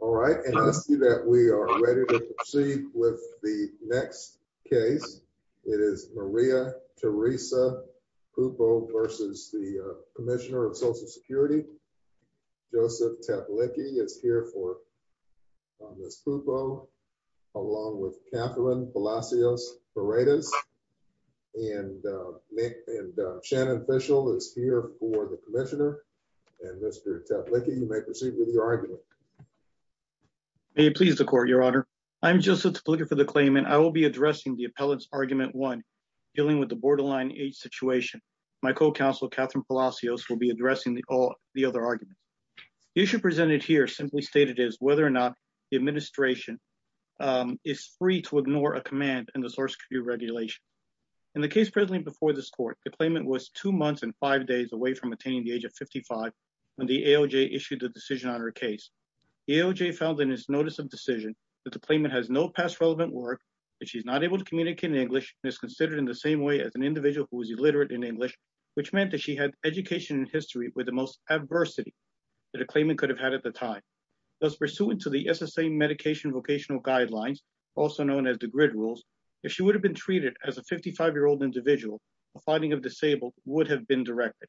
All right, I see that we are ready to proceed with the next case. It is Maria Teresa Pupo versus the Commissioner of Social Security. Joseph Teplicki is here for Ms. Pupo, along with Catherine Palacios-Paredes. And Shannon Fishel is here for the Commissioner. And Mr. Teplicki, you may proceed with your argument. May it please the Court, Your Honor. I am Joseph Teplicki for the claimant. I will be addressing the appellant's argument one, dealing with the borderline aid situation. My co-counsel, Catherine Palacios, will be addressing the other argument. The issue presented here simply stated is whether or not the administration is free to ignore a command in the source review regulation. In the case presently before this Court, the claimant was two months and five days away from attaining the age of 55 when the AOJ issued the decision on her case. The AOJ found in its notice of decision that the claimant has no past relevant work, that she is not able to communicate in English, and is considered in the same way as an individual who is illiterate in English, which meant that she had education in history with the most adversity that a claimant could have had at the time. Thus, pursuant to the SSA Medication Vocational Guidelines, also known as the GRID rules, if she would have been treated as a 55-year-old individual, a finding of disabled would have been directed.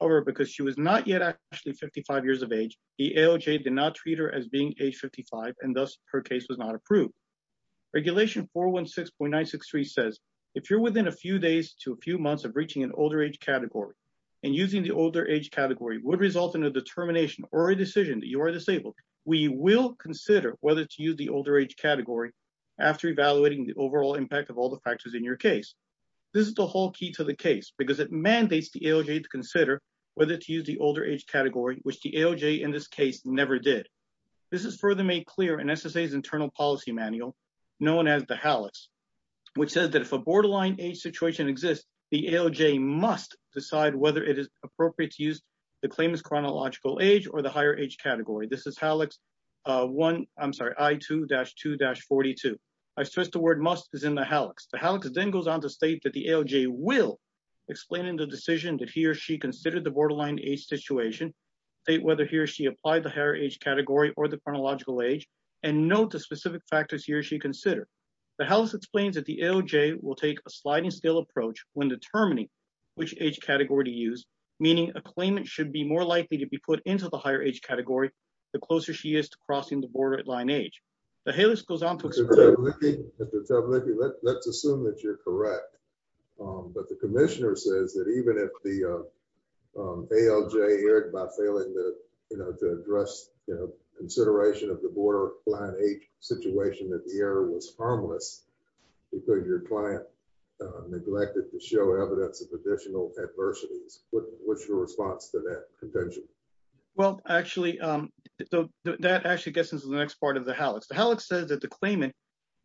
However, because she was not yet actually 55 years of age, the AOJ did not treat her as being age 55, and thus her case was not approved. Regulation 416.963 says, if you're within a few days to a few months of reaching an older age category, and using the older age category would result in a determination or a decision that you are disabled, we will consider whether to use the older age category after evaluating the overall impact of all the factors in your case. This is the whole key to the case, because it mandates the AOJ to consider whether to use the older age category, which the AOJ in this case never did. This is further made clear in SSA's Internal Policy Manual, known as the HALEX, which says that if a borderline age situation exists, the AOJ must decide whether it is appropriate to use the claimant's chronological age or the higher age category. This is HALEX I-2-2-42. I stress the word must is in the HALEX. The HALEX then goes on to state that the AOJ will explain in the decision that he or she considered the borderline age situation, state whether he or she applied the higher age category or the chronological age, and note the specific factors he or she considered. The HALEX explains that the AOJ will take a sliding scale approach when determining which age category to use, meaning a claimant should be more likely to be put into the higher age category the closer she is to crossing the borderline age. The HALEX goes on to explain… Mr. Tabluki, let's assume that you're correct, but the Commissioner says that even if the AOJ erred by failing to address the consideration of the borderline age situation, that the error was harmless because your client neglected to show evidence of additional adversities. What's your response to that contention? Well, actually, that actually gets into the next part of the HALEX. The HALEX says that the claimant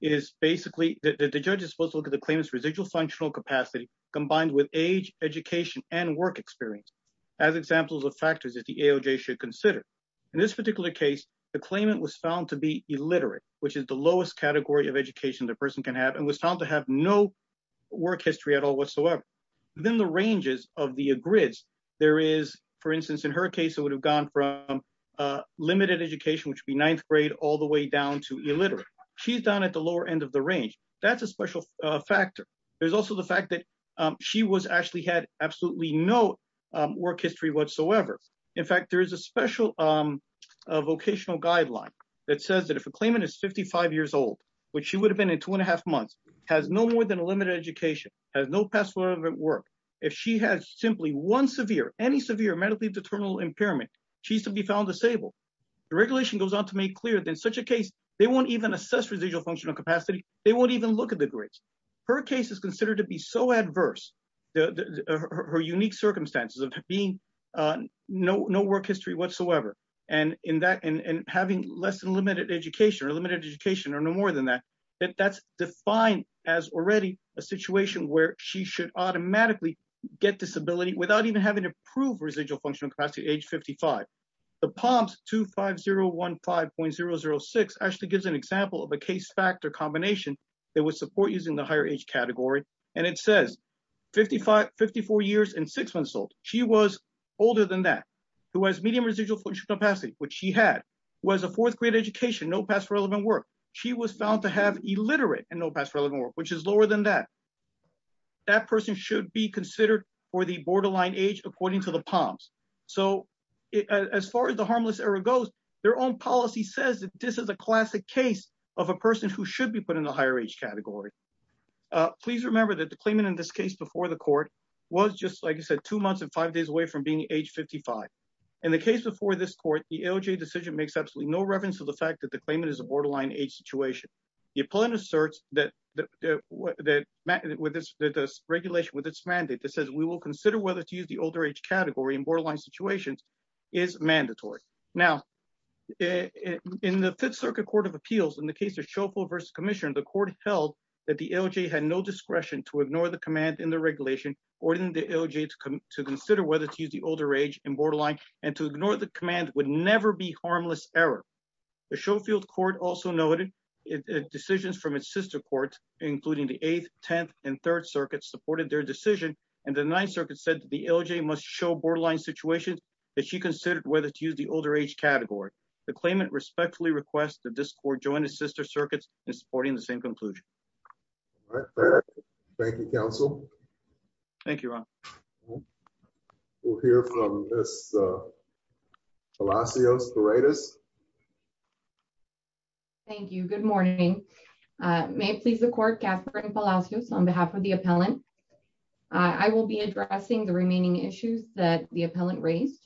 is basically… the judge is supposed to look at the claimant's residual functional capacity combined with age, education, and work experience as examples of factors that the AOJ should consider. In this particular case, the claimant was found to be illiterate, which is the lowest category of education the person can have, and was found to have no work history at all whatsoever. Within the ranges of the aggrids, there is, for instance, in her case, it would have gone from limited education, which would be ninth grade, all the way down to illiterate. She's down at the lower end of the range. That's a special factor. There's also the fact that she actually had absolutely no work history whatsoever. In fact, there is a special vocational guideline that says that if a claimant is 55 years old, which she would have been in two and a half months, has no more than a limited education, has no past work, if she has simply one severe, any severe medically determinable impairment, she's to be found disabled. The regulation goes on to make clear that in such a case, they won't even assess residual functional capacity. They won't even look at the grades. Her case is considered to be so adverse, her unique circumstances of being no work history whatsoever, and having less than limited education, or limited education, or no more than that, that that's defined as already a situation where she should automatically get disability without even having to prove residual functional capacity at age 55. The POMS 25015.006 actually gives an example of a case factor combination that would support using the higher age category. And it says 55, 54 years and six months old. She was older than that, who has medium residual functional capacity, which she had, was a fourth grade education, no past relevant work. She was found to have illiterate and no past relevant work, which is lower than that. That person should be considered for the borderline age according to the POMS. So as far as the harmless error goes, their own policy says that this is a classic case of a person who should be put in the higher age category. Please remember that the claimant in this case before the court was just like I said, two months and five days away from being age 55. In the case before this court, the AOJ decision makes absolutely no reference to the fact that the claimant is a borderline age situation. The appellant asserts that the regulation with its mandate that says we will consider whether to use the older age category in borderline situations is mandatory. Now, in the Fifth Circuit Court of Appeals, in the case of Schofield v. Commission, the court held that the AOJ had no discretion to ignore the command in the regulation ordering the AOJ to consider whether to use the older age in borderline and to ignore the command would never be harmless error. The Schofield Court also noted decisions from its sister court, including the Eighth, Tenth, and Third Circuits supported their decision, and the Ninth Circuit said the AOJ must show borderline situations that she considered whether to use the older age category. The claimant respectfully requests that this court join its sister circuits in supporting the same conclusion. Thank you, counsel. Thank you, Ron. We'll hear from Ms. Palacios-Paredes. Thank you. Good morning. May it please the court, Katherine Palacios, on behalf of the appellant, I will be addressing the remaining issues that the appellant raised.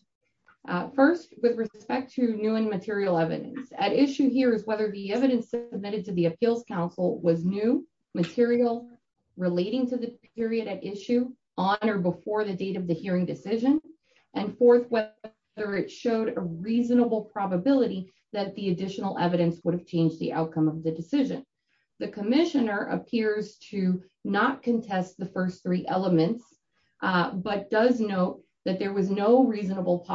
First, with respect to new and material evidence, at issue here is whether the evidence submitted to the appeals counsel was new, material, relating to the period at issue, on or before the date of the hearing decision, and fourth, whether it showed a reasonable probability that the additional evidence would have changed the outcome of the decision. The commissioner appears to not contest the first three elements, but does note that there was no reasonable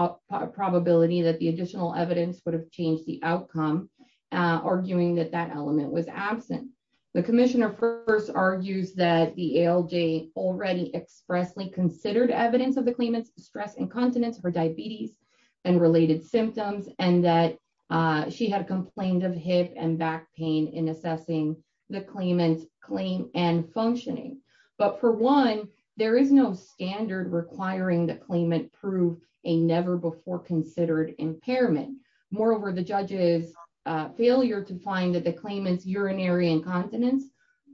probability that the additional evidence would have changed the outcome, arguing that that element was absent. The commissioner first argues that the AOJ already expressly considered evidence of the claimant's stress incontinence, her diabetes, and related symptoms, and that she had complained of hip and back pain in assessing the claimant's claim and functioning. But for one, there is no standard requiring the claimant prove a never-before-considered impairment. Moreover, the judge's failure to find that the claimant's urinary incontinence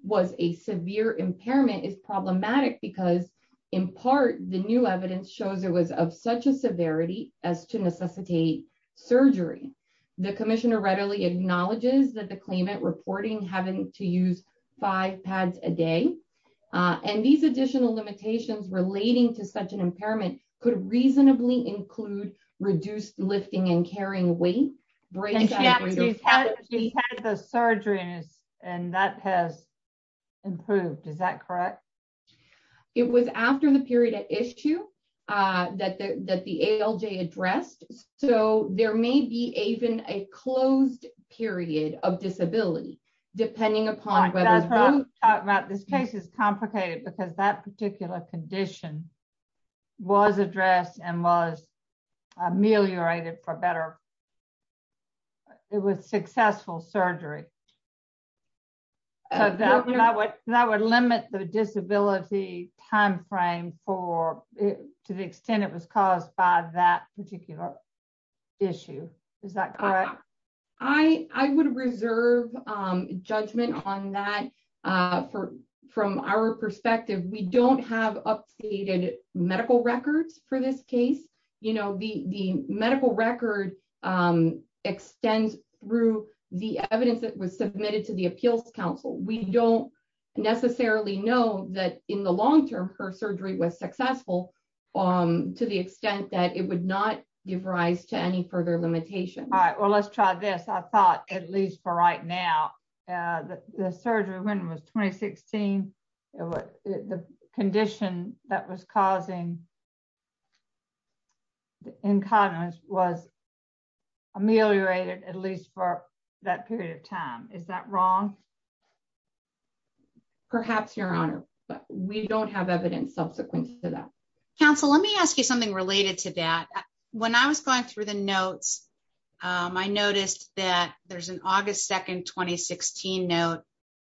was a severe impairment is problematic because, in part, the new evidence shows it was of such a severity as to necessitate surgery. The commissioner readily acknowledges that the claimant reporting having to use five pads a day, and these additional limitations relating to such an impairment could reasonably include reduced lifting and carrying weight. And she's had the surgery, and that has improved, is that correct? It was after the period at issue that the AOJ addressed, so there may be even a closed period of disability, depending upon whether... This case is complicated because that particular condition was addressed and was ameliorated for better. It was successful surgery. That would limit the disability timeframe to the extent it was caused by that particular issue, is that correct? I would reserve judgment on that from our perspective. We don't have updated medical records for this case. The medical record extends through the evidence that was submitted to the Appeals Council. We don't necessarily know that in the long term her surgery was successful to the extent that it would not give rise to any further limitations. I'll try this. I thought, at least for right now, the surgery when it was 2016, the condition that was causing incontinence was ameliorated, at least for that period of time. Is that wrong? Perhaps, Your Honor, but we don't have evidence subsequent to that. Counsel, let me ask you something related to that. When I was going through the notes, I noticed that there's an August 2, 2016 note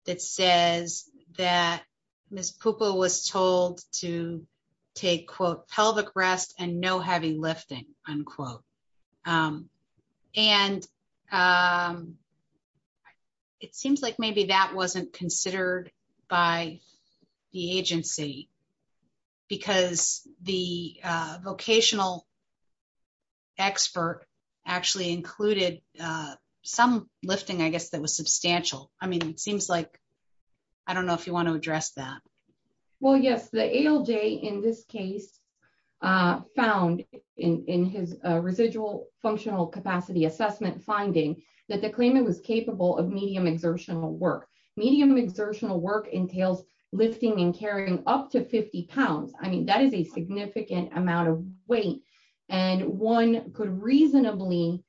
that says that Ms. Pupa was told to take, quote, pelvic rest and no heavy lifting, unquote. It seems like maybe that wasn't considered by the agency because the vocational expert actually included some lifting, I guess, that was substantial. It seems like, I don't know if you want to address that. Well, yes, the ALJ in this case found in his residual functional capacity assessment finding that the claimant was capable of medium exertional work. Medium exertional work entails lifting and carrying up to 50 pounds. I mean, that is a significant amount of weight. One could reasonably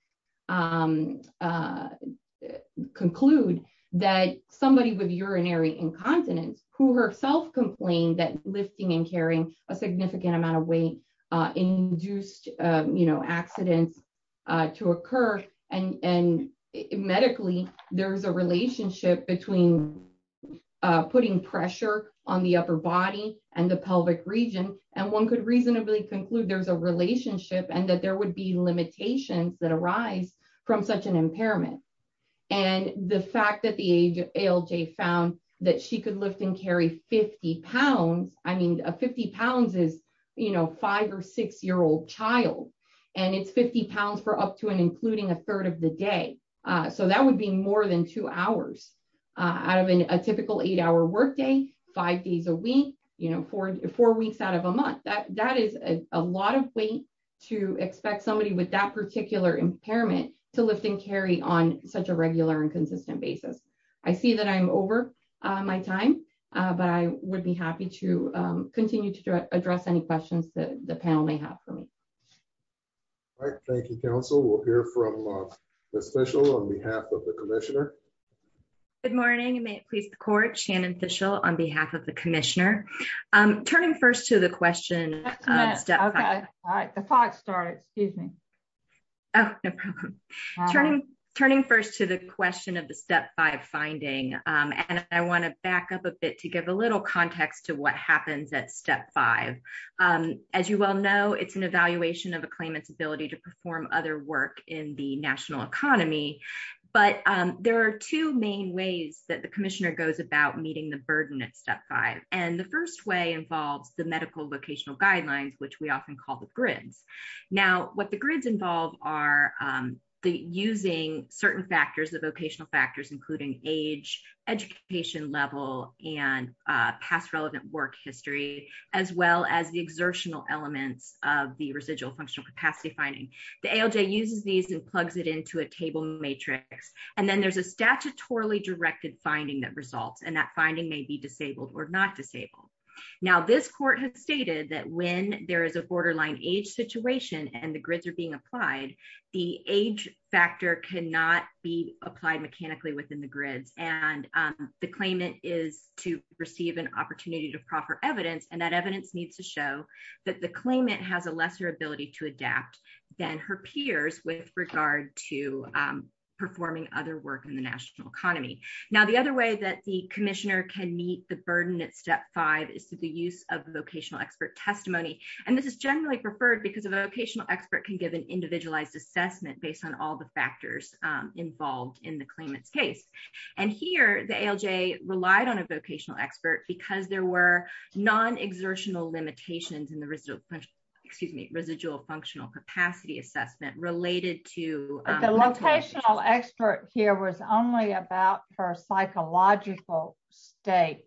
conclude that somebody with urinary incontinence who herself complained that lifting and carrying a significant amount of weight induced accidents to occur. And medically, there's a relationship between putting pressure on the upper body and the pelvic region. And one could reasonably conclude there's a relationship and that there would be limitations that arise from such an impairment. And the fact that the ALJ found that she could lift and carry 50 pounds, I mean, 50 pounds is, you know, five or six year old child, and it's 50 pounds for up to and including a third of the day. So that would be more than two hours out of a typical eight hour workday, five days a week, you know, four weeks out of a month. That is a lot of weight to expect somebody with that particular impairment to lift and carry on such a regular and consistent basis. I see that I'm over my time, but I would be happy to continue to address any questions that the panel may have for me. Thank you, counsel will hear from the special on behalf of the commissioner. Good morning and may it please the court Shannon official on behalf of the commissioner. I'm turning first to the question. All right. Excuse me. Turning, turning first to the question of the step five finding. And I want to back up a bit to give a little context to what happens at step five. As you well know, it's an evaluation of a claimant's ability to perform other work in the national economy. But there are two main ways that the commissioner goes about meeting the burden at step five, and the first way involves the medical vocational guidelines which we often call the grids. Now, what the grids involve are the using certain factors the vocational factors including age, education level, and past relevant work history, as well as the exertional elements of the residual functional capacity finding the ALJ uses these and plugs it into a table matrix, and then there's a statutorily directed finding that results and that finding may be disabled or not disabled. Now this court has stated that when there is a borderline age situation and the grids are being applied. The age factor cannot be applied mechanically within the grids and the claimant is to receive an opportunity to proffer evidence and that evidence needs to show that the claimant has a lesser ability to adapt, then her peers with regard to performing other work in the national economy. Now the other way that the commissioner can meet the burden at step five is to the use of vocational expert testimony, and this is generally preferred because of vocational expert can give an individualized assessment based on all the factors involved in the claimant's case. And here, the ALJ relied on a vocational expert because there were non exertional limitations and the result, excuse me, residual functional capacity assessment related to the location The vocational expert here was only about her psychological state.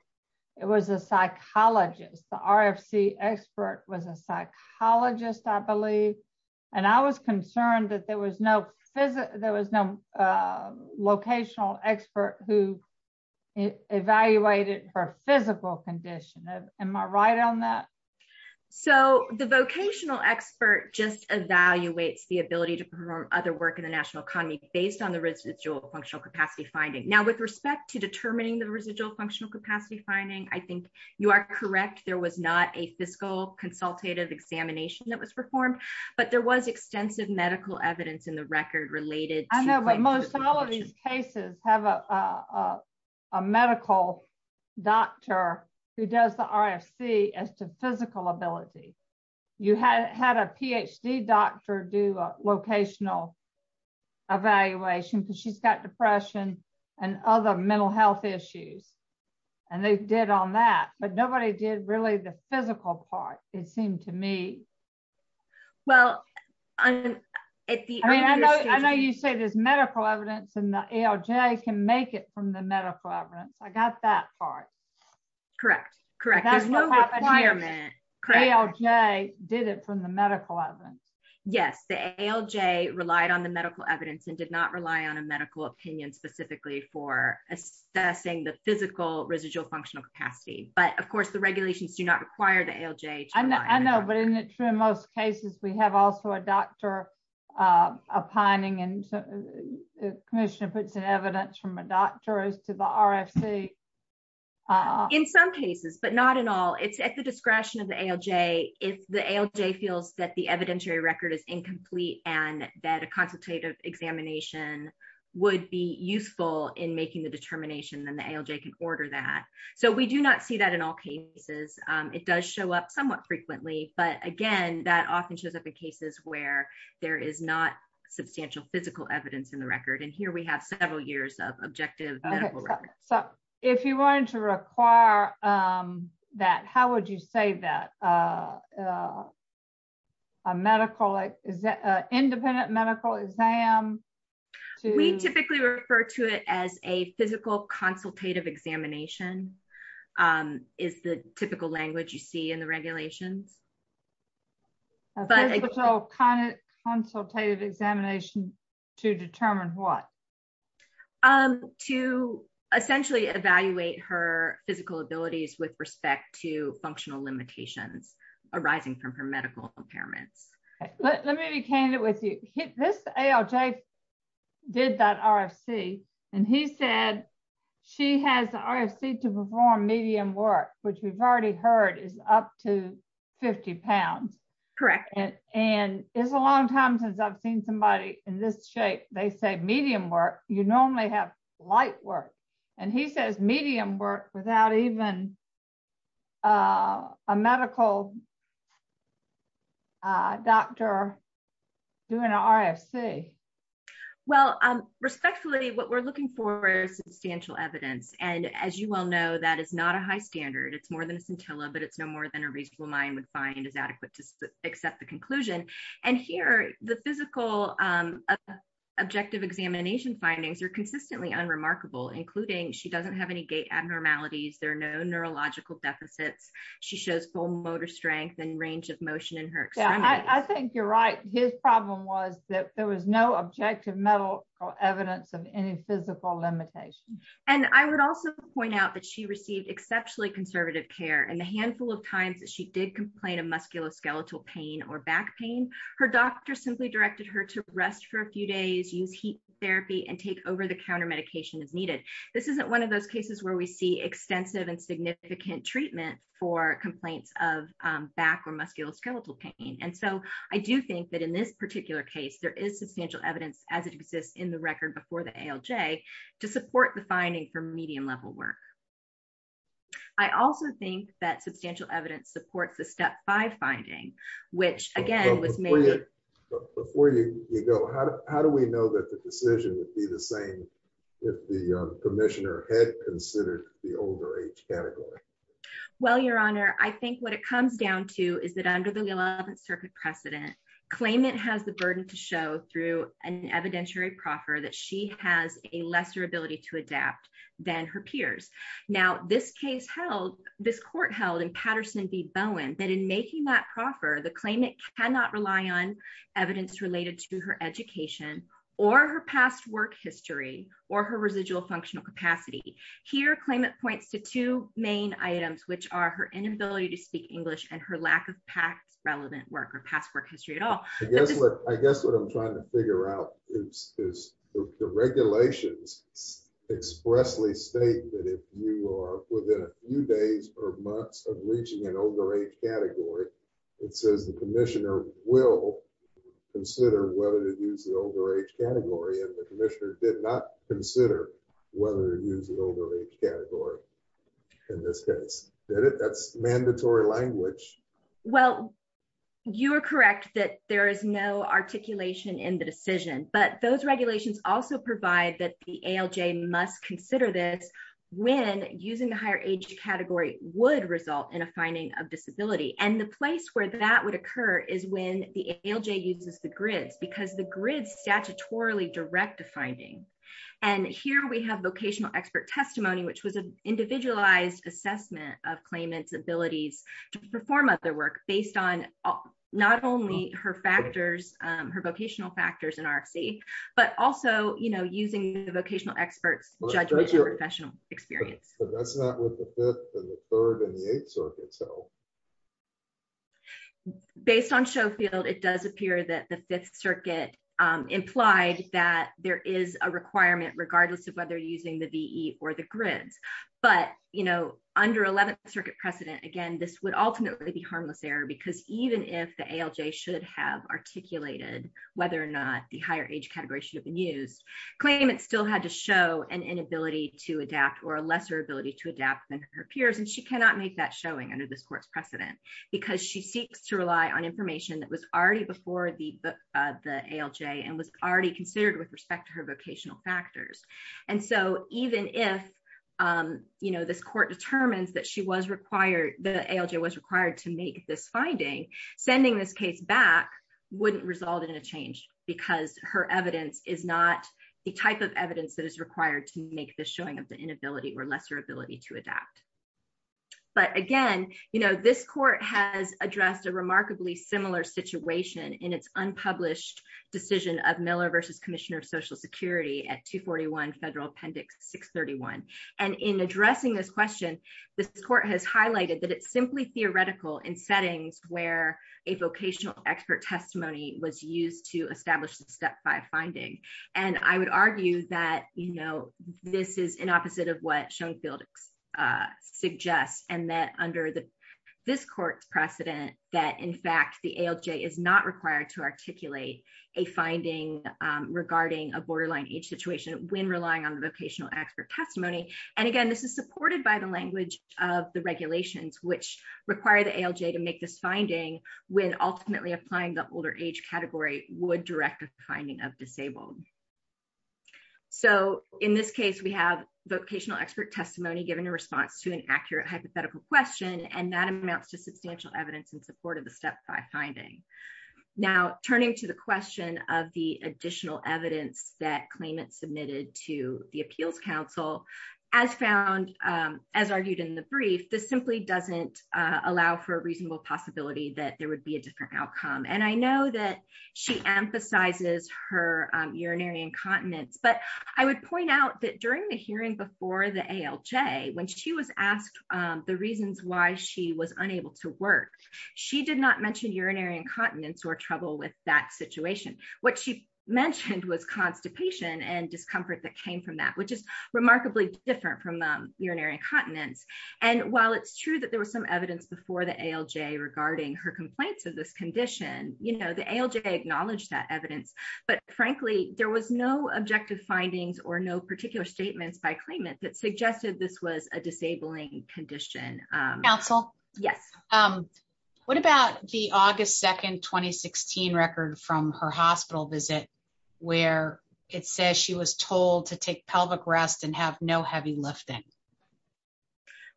It was a psychologist, the RFC expert was a psychologist, I believe, and I was concerned that there was no physical, there was no locational expert who evaluated for physical condition. Am I right on that? So the vocational expert just evaluates the ability to perform other work in the national economy, based on the residual functional capacity finding. Now with respect to determining the residual functional capacity finding, I think you are correct, there was not a medical doctor who does the RFC as to physical ability. You had a PhD doctor do a locational evaluation because she's got depression and other mental health issues. And they did on that, but nobody did really the physical part, it seemed to me. Well, I know you say there's medical evidence and the ALJ can make it from the medical evidence. I got that part. Correct, correct. ALJ did it from the medical evidence. Yes, the ALJ relied on the medical evidence and did not rely on a medical opinion specifically for assessing the physical residual functional capacity, but of course the regulations do not require the ALJ. I know, but isn't it true in most cases we have also a doctor opining and Commissioner puts in evidence from a doctor as to the RFC. In some cases, but not in all, it's at the discretion of the ALJ. If the ALJ feels that the evidentiary record is incomplete and that a consultative examination would be useful in making the determination, then the ALJ can order that. So we do not see that in all cases. It does show up somewhat frequently, but again, that often shows up in cases where there is not substantial physical evidence in the record and here we have several years of objective medical record. So, if you wanted to require that, how would you say that a medical independent medical exam. We typically refer to it as a physical consultative examination is the typical language you see in the regulations. A physical consultative examination to determine what? To essentially evaluate her physical abilities with respect to functional limitations arising from her medical impairments. Let me be candid with you. This ALJ did that RFC, and he said she has the RFC to perform medium work, which we've already heard is up to 50 pounds. Correct. And it's a long time since I've seen somebody in this shape, they say medium work, you normally have light work, and he says medium work without even a medical doctor doing an RFC. Well, respectfully, what we're looking for is substantial evidence and as you well know that is not a high standard it's more than a scintilla but it's no more than a reasonable mind would find is adequate to accept the conclusion. And here, the physical objective examination findings are consistently unremarkable including she doesn't have any gait abnormalities there are no neurological deficits. She shows full motor strength and range of motion in her. I think you're right, his problem was that there was no objective medical evidence of any physical limitation. And I would also point out that she received exceptionally conservative care and the handful of times that she did complain of musculoskeletal pain or back pain. Her doctor simply directed her to rest for a few days use heat therapy and take over the counter medication is needed. This isn't one of those cases where we see extensive and significant treatment for complaints of back or musculoskeletal pain and so I do think that in this particular case there is substantial evidence as it exists in the record before the LJ to support the finding for medium level work. I also think that substantial evidence supports the step five finding, which again was made before you go, how do we know that the decision would be the same. If the commissioner had considered the older age category. Well, Your Honor, I think what it comes down to is that under the 11th Circuit precedent claimant has the burden to show through an evidentiary proffer that she has a lesser ability to adapt than her peers. Now this case held this court held and Patterson be Bowen that in making that proffer the claimant cannot rely on evidence related to her education, or her past work history, or her residual functional capacity here claimant points to two main items which are her inability to speak English and her lack of past relevant work or past work history at all. I guess what I guess what I'm trying to figure out is, is the regulations expressly state that if you are within a few days or months of reaching an older age category. It says the commissioner will consider whether to use the older age category and the commissioner did not consider whether to use an older age category. In this case, that's mandatory language. Well, you are correct that there is no articulation in the decision, but those regulations also provide that the LJ must consider this. When using the higher age category would result in a finding of disability and the place where that would occur is when the LJ uses the grids because the grid statutorily direct to finding. And here we have vocational expert testimony which was an individualized assessment of claimants abilities to perform other work based on not only her factors, her vocational factors in RFC, but also, you know, using the vocational experts judgment your professional experience. That's not what the third and the eighth circuit so based on show field it does appear that the Fifth Circuit implied that there is a requirement, regardless of whether using the V or the grids, but you know, under 11th Circuit precedent again this would ultimately be harmless error because even if the LJ should have articulated, whether or not the higher age category should have been used claim it still had to show an inability to adapt or a lesser ability to adapt than her peers and she cannot make that showing under this court's precedent, because she seeks to rely on information that was already before the, the LJ and was already considered with respect to her vocational factors. And so, even if you know this court determines that she was required the LJ was required to make this finding sending this case back wouldn't result in a change, because her evidence is not the type of evidence that is required to make the showing of the inability or lesser ability to adapt. But again, you know this court has addressed a remarkably similar situation in its unpublished decision of Miller versus Commissioner of Social Security at 241 federal appendix 631, and in addressing this question. This court has highlighted that it's simply theoretical in settings where a vocational expert testimony was used to establish the step by finding, and I would argue that, you know, this is an opposite of what shown field suggests, and that under the. This court's precedent that in fact the LJ is not required to articulate a finding regarding a borderline age situation when relying on the vocational expert testimony. And again, this is supported by the language of the regulations which require the LJ to make this finding when ultimately applying the older age category would direct finding of disabled. So, in this case we have vocational expert testimony given a response to an accurate hypothetical question and that amounts to substantial evidence in support of the step by finding. Now, turning to the question of the additional evidence that claimant submitted to the appeals council as found as argued in the brief this simply doesn't allow for a reasonable possibility that there would be a different outcome and I know that she emphasizes her urinary incontinence but I would point out that during the hearing before the LJ when she was asked the reasons why she was unable to work. She did not mention urinary incontinence or trouble with that situation. What she mentioned was constipation and discomfort that came from that which is remarkably different from urinary incontinence. And while it's true that there was some evidence before the LJ regarding her complaints of this condition, you know the LJ acknowledge that evidence, but frankly, there was no objective findings or no particular statements by claimant that suggested this was a disabling condition. Yes. What about the August 2 2016 record from her hospital visit, where it says she was told to take pelvic rest and have no heavy lifting.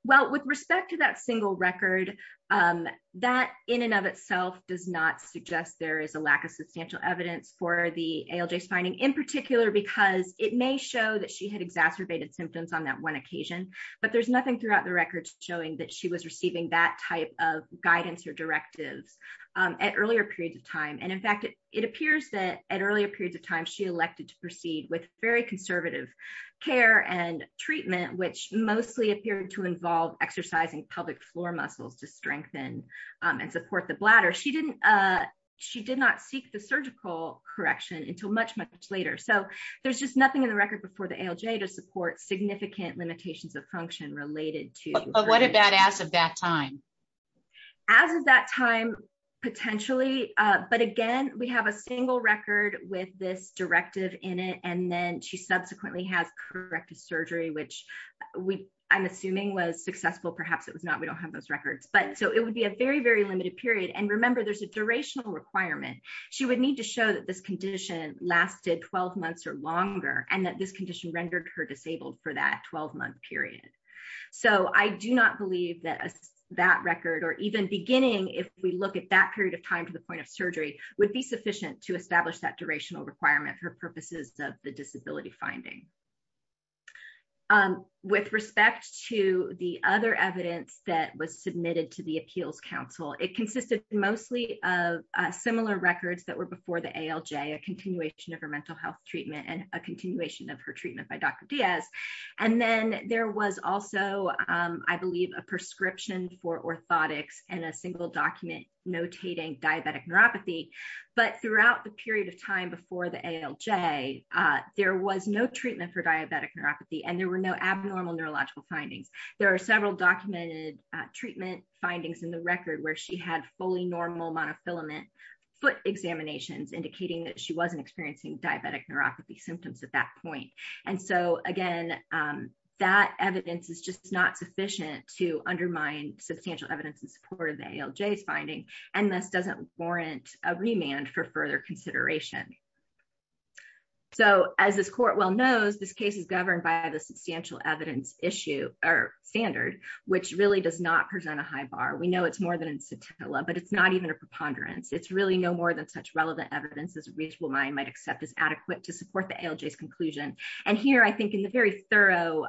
Well, with respect to that single record that in and of itself does not suggest there is a lack of substantial evidence for the LJ finding in particular because it may show that she had exacerbated symptoms on that one occasion, but there's nothing throughout the records showing that she was receiving that type of guidance or directives at earlier periods of time and in fact it appears that at earlier periods of time she elected to proceed with very conservative care and treatment which mostly appeared to involve exercising pelvic floor muscles to strengthen and support the bladder she didn't. She did not seek the surgical correction until much much later so there's just nothing in the record before the LJ to support significant limitations of function related to what about as of that time, as of that time, potentially, but again, we have a single record with this directive in it and then she subsequently has corrective surgery which we, I'm assuming was successful perhaps it was not we don't have those records but so it would be a very very limited period and remember there's a durational requirement. She would need to show that this condition lasted 12 months or longer, and that this condition rendered her disabled for that 12 month period. So I do not believe that that record or even beginning if we look at that period of time to the point of surgery would be sufficient to establish that durational requirement for purposes of the disability finding with respect to the other evidence that was there was also, I believe, a prescription for orthotics and a single document notating diabetic neuropathy, but throughout the period of time before the LJ. There was no treatment for diabetic neuropathy and there were no abnormal neurological findings. There are several documented treatment findings in the record where she had fully normal monofilament foot examinations indicating that she wasn't experiencing diabetic neuropathy symptoms at that point. And so, again, that evidence is just not sufficient to undermine substantial evidence in support of the LJ's finding, and this doesn't warrant a remand for further consideration. So, as this court well knows this case is governed by the substantial evidence issue or standard, which really does not present a high bar we know it's more than a scintilla but it's not even a preponderance it's really no more than such relevant evidence as a reasonable mind might accept as adequate to support the LJ's conclusion. And here I think in the very thorough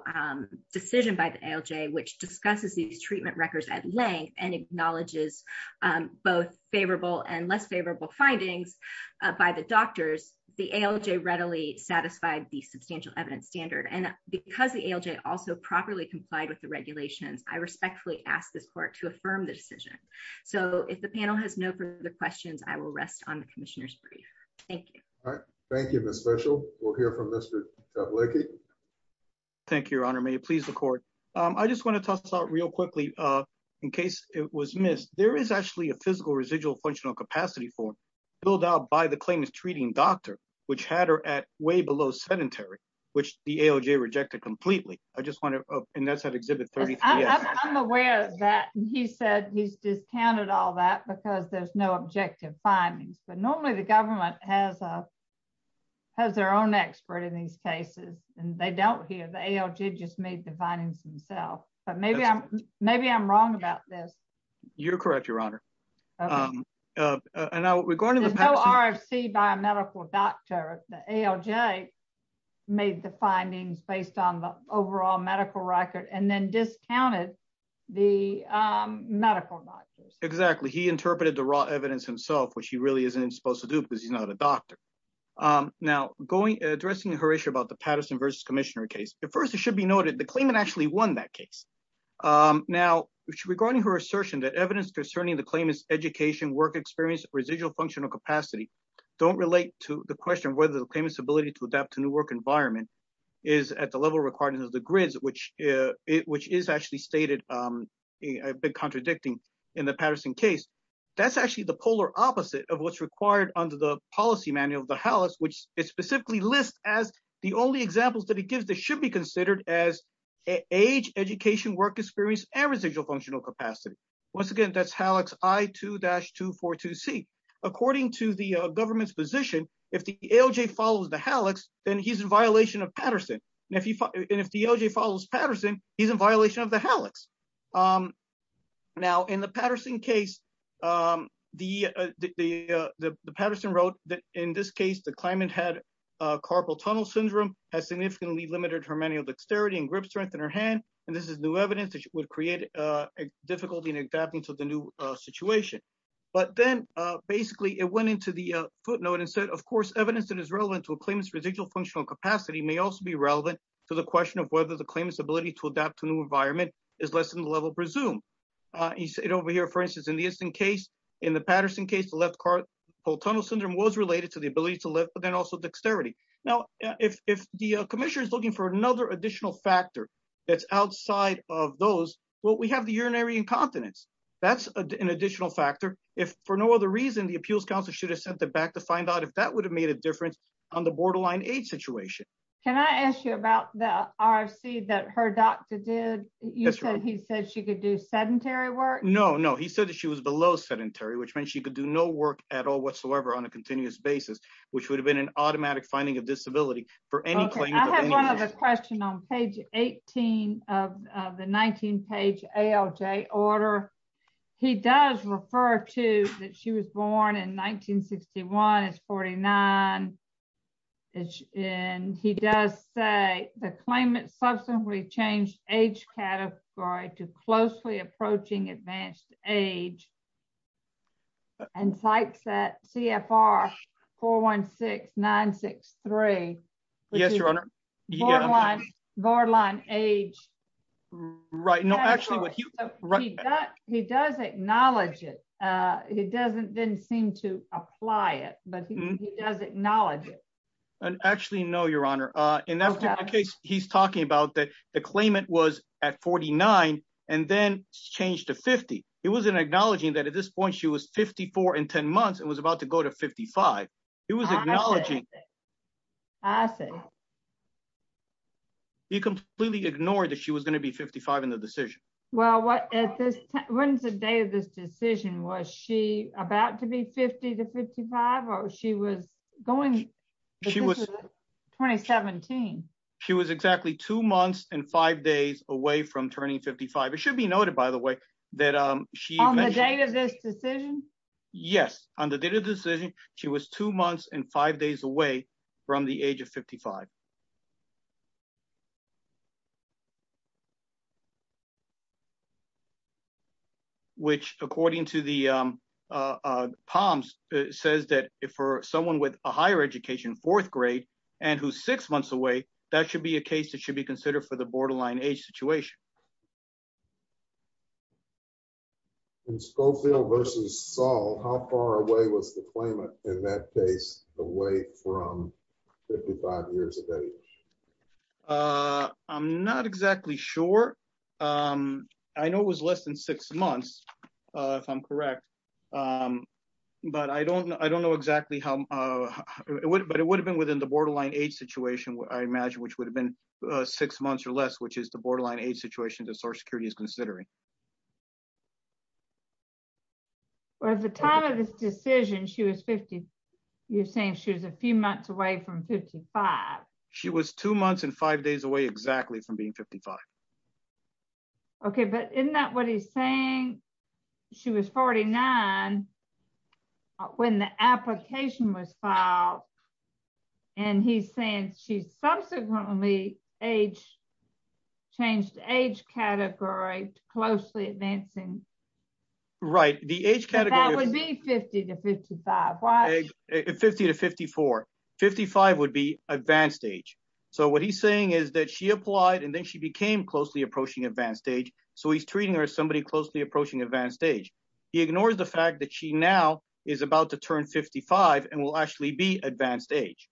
decision by the LJ which discusses these treatment records at length and acknowledges both favorable and less favorable findings by the doctors, the LJ readily satisfied the substantial evidence standard and because the LJ also properly complied with the regulations, I respectfully ask this court to affirm the decision. So if the panel has no further questions I will rest on the commissioners brief. Thank you. Thank you, Miss special will hear from Mr. Thank you, Your Honor may please record. I just want to talk about real quickly. In case it was missed, there is actually a physical residual functional capacity for build out by the claim is treating doctor, which had her at way below sedentary, which the LJ rejected completely. I just want to, and that's an exhibit. I'm aware that he said he's discounted all that because there's no objective findings, but normally the government has a has their own expert in these cases, and they don't hear the LJ just made the findings himself, but maybe I'm maybe I'm wrong about this. You're correct, Your Honor. And now we're going to the RFC biomedical doctor, the LJ made the findings based on the overall medical record and then discounted the medical doctors exactly he interpreted the raw evidence himself which he really isn't supposed to do because he's not a doctor. Now, going addressing her issue about the Patterson versus commissioner case, but first it should be noted the claim and actually won that case. Now, regarding her assertion that evidence concerning the claim is education work experience residual functional capacity. Don't relate to the question whether the payments ability to adapt to new work environment is at the level requirements of the grids, which is actually stated a bit contradicting in the Patterson case. That's actually the polar opposite of what's required under the policy manual the house which is specifically list as the only examples that it gives the should be considered as age, education work experience and residual functional capacity. Once again, that's how it's I to dash to 42 see, according to the government's position. If the LJ follows the Alex, then he's in violation of Patterson, and if you if the LJ follows Patterson, he's in violation of the Alex. Now in the Patterson case, the, the Patterson wrote that in this case the climate had carpal tunnel syndrome has significantly limited her manual dexterity and grip strength in her hand, and this is new evidence that would create a difficulty in adapting to the new situation. But then, basically, it went into the footnote and said of course evidence that is relevant to a claimant's residual functional capacity may also be relevant to the question of whether the claimants ability to adapt to new environment is less than the level presumed. He said over here for instance in the instant case in the Patterson case the left car whole tunnel syndrome was related to the ability to live but then also dexterity. Now, if the commissioners looking for another additional factor that's outside of those what we have the urinary incontinence. That's an additional factor. If for no other reason the appeals counsel should have sent it back to find out if that would have made a difference on the borderline age situation. Can I ask you about the RC that her doctor did you said he said she could do sedentary work no no he said that she was below sedentary which means she could do no work at all whatsoever on a continuous basis, which would have been an automatic finding of disability for any question on page, 18 of the 19 page ALJ order. He does refer to that she was born in 1961 is 49. And he does say the claimant subsequently changed age category to closely approaching advanced age and sites that CFR 416 963. Yes, Your Honor. Borderline age. Right now actually what he does acknowledge it. It doesn't didn't seem to apply it, but he does acknowledge it. And actually no Your Honor, in that case, he's talking about that the claimant was at 49, and then changed to 50. It wasn't acknowledging that at this point she was 54 and 10 months and was about to go to 55. It was acknowledging. I say, you completely ignore that she was going to be 55 in the decision. Well what is this Wednesday of this decision was she about to be 50 to 55 or she was going. She was 2017. She was exactly two months and five days away from turning 55 it should be noted, by the way, that she made this decision. Yes, on the decision. She was two months and five days away from the age of 55, which, according to the palms says that if for someone with a higher education fourth grade, and who's six months away, that should be a case that should be considered for the borderline age situation. Scofield versus Saul, how far away was the claimant in that case, away from 55 years of age. I'm not exactly sure. I know was less than six months. If I'm correct. But I don't know I don't know exactly how it would but it would have been within the borderline age situation where I imagine which would have been six months or less which is the borderline age situation to source security is considering. At the time of this decision she was 50. You're saying she was a few months away from 55. She was two months and five days away exactly from being 55. Okay, but in that what he's saying. She was 49. When the application was filed. And he's saying she's subsequently age changed age category closely advancing. Right, the age category would be 50 to 55, 50 to 5455 would be advanced age. So what he's saying is that she applied and then she became closely approaching advanced age. So he's treating her as somebody closely approaching advanced age. He ignores the fact that she now is about to turn 55 and will actually be advanced age.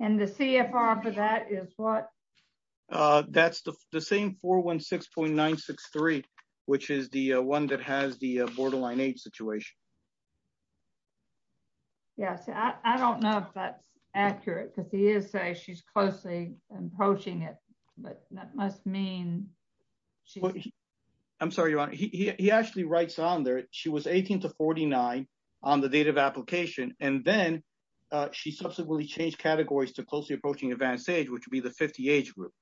And the CFR for that is what. That's the same for one 6.963, which is the one that has the borderline age situation. Yes, I don't know if that's accurate because he is say she's closely approaching it, but that must mean. I'm sorry, he actually writes on there, she was 18 to 49 on the date of application, and then she subsequently changed categories to closely approaching advanced age which would be the 50 age group.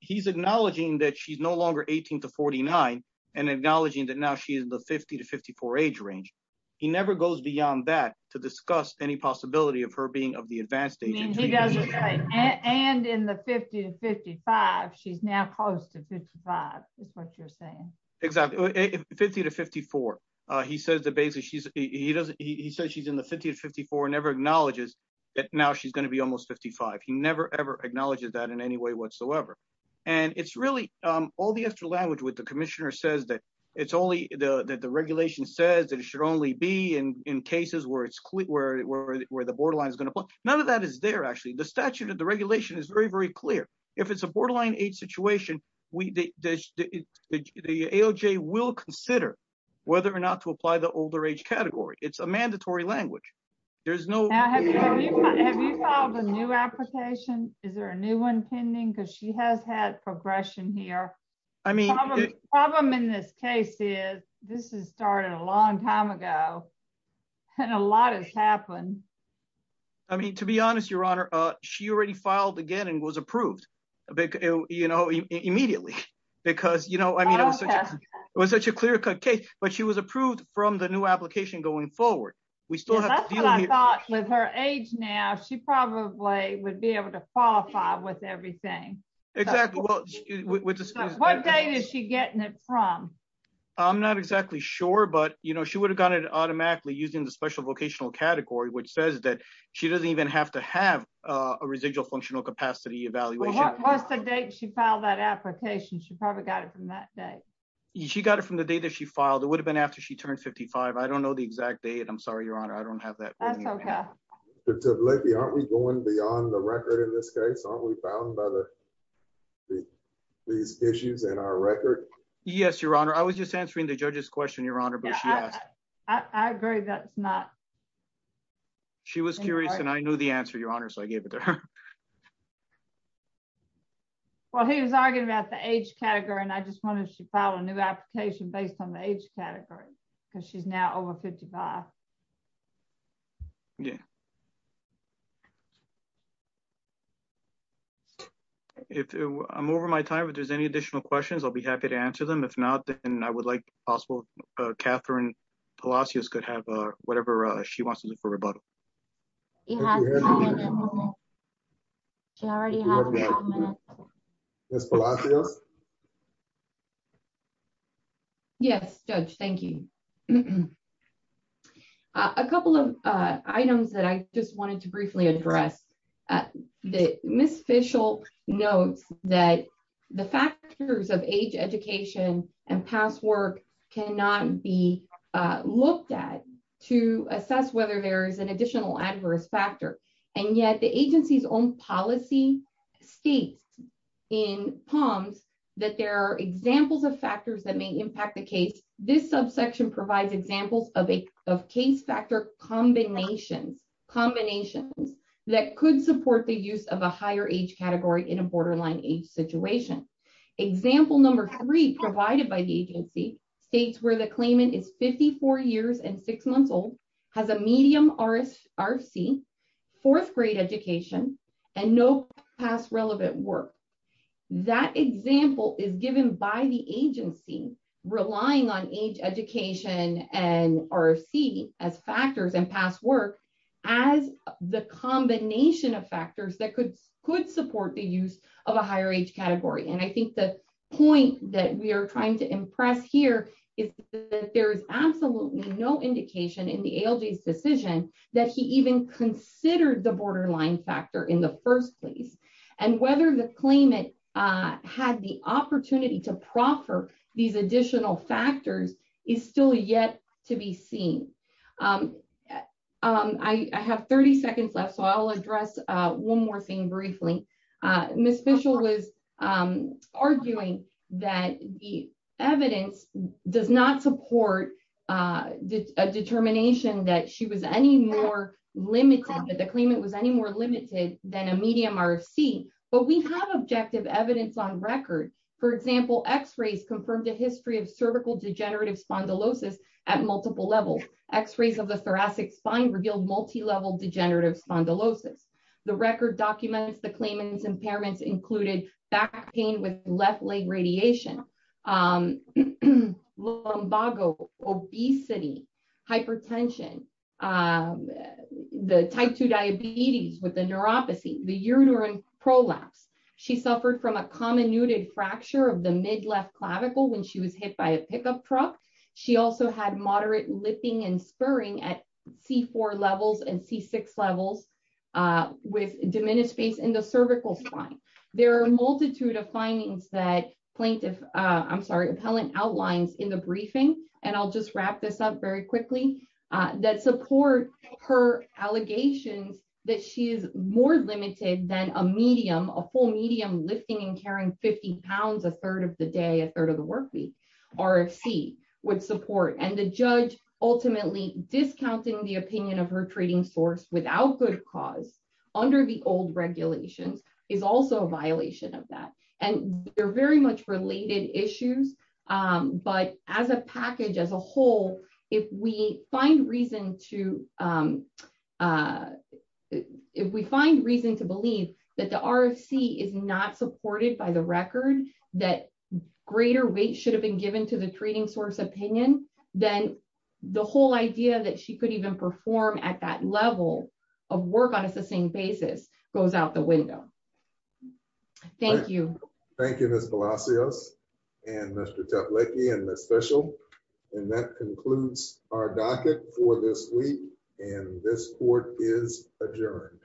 He's acknowledging that she's no longer 18 to 49 and acknowledging that now she is the 50 to 54 age range. He never goes beyond that to discuss any possibility of her being of the advanced age. And in the 50 to 55 she's now close to 55 is what you're saying. Exactly. 50 to 54. He says the basis she's, he doesn't he says she's in the 50 to 54 never acknowledges that now she's going to be almost 55 he never ever acknowledges that in any way whatsoever. And it's really all the extra language with the commissioner says that it's only the regulation says that it should only be in cases where it's clear where the borderline is going to put none of that is there actually the statute of the regulation is very very clear. If it's a borderline age situation, we did the AJ will consider whether or not to apply the older age category, it's a mandatory language. There's no. Have you found a new application, is there a new one pending because she has had progression here. I mean, problem in this case is, this is started a long time ago. And a lot has happened. I mean, to be honest, Your Honor, she already filed again and was approved a big, you know, immediately, because you know I mean it was such a clear cut case, but she was approved from the new application going forward. We still have her age now she probably would be able to qualify with everything. Exactly. What day is she getting it from. I'm not exactly sure but you know she would have gotten it automatically using the special vocational category which says that she doesn't even have to have a residual functional capacity evaluation. She filed that application she probably got it from that day. She got it from the day that she filed it would have been after she turned 55 I don't know the exact date I'm sorry Your Honor I don't have that. To let me aren't we going beyond the record in this case aren't we found by the. These issues in our record. Yes, Your Honor, I was just answering the judges question Your Honor. I agree that's not. She was curious and I knew the answer Your Honor so I gave it to her. Well he was arguing about the age category and I just wanted to follow a new application based on the age category, because she's now over 55. Yeah. If I'm over my time if there's any additional questions I'll be happy to answer them if not, then I would like possible Catherine Palacios could have whatever she wants to do for rebuttal. He has already. Yes. Yes, Judge, thank you. A couple of items that I just wanted to briefly address the miss official notes that the factors of age education and past work cannot be looked at to assess whether there is an additional adverse factor, and yet the agency's own policy states in palms that there are examples of factors that may impact the case. This subsection provides examples of a case factor combinations combinations that could support the use of a higher age category in a borderline age situation. Example number three provided by the agency states where the claimant is 54 years and six months old has a medium RS RC fourth grade education, and no past relevant work. That example is given by the agency, relying on age education and RC as factors and past work as the combination of factors that could could support the use of a higher age category and I think the point that we are trying to impress here is that there is absolutely no indication in the LG decision that he even considered the borderline factor in the first place, and whether the claimant had the opportunity to proffer these additional factors is still yet to be seen. I have 30 seconds left so I'll address one more thing briefly, Miss Mitchell was arguing that the evidence does not support the determination that she was any more limited that the claim it was any more limited than a medium RC, but we have objective evidence on record. For example, x rays confirmed a history of cervical degenerative spondylosis at multiple levels x rays of the thoracic spine revealed multi level degenerative spondylosis, the record documents the claimants impairments included back pain with fracture of the mid left clavicle when she was hit by a pickup truck. She also had moderate lifting and spurring at C four levels and see six levels with diminished space in the cervical spine. There are a multitude of findings that plaintiff. I'm sorry appellant outlines in the briefing, and I'll just wrap this up very quickly. That support her allegations that she is more limited than a medium, a full medium lifting and carrying 50 pounds a third of the day a third of the work week, or see what support and the judge, ultimately discounting the opinion of her trading source without under the old regulations is also a violation of that. And they're very much related issues, but as a package as a whole, if we find reason to If we find reason to believe that the RFC is not supported by the record that greater weight should have been given to the trading source opinion, then the whole idea that she could even perform at that level of work on a sustained basis goes out the window. Thank you. Thank you. Thank you. And Mr. And the special. And that concludes our docket for this week, and this court is adjourned.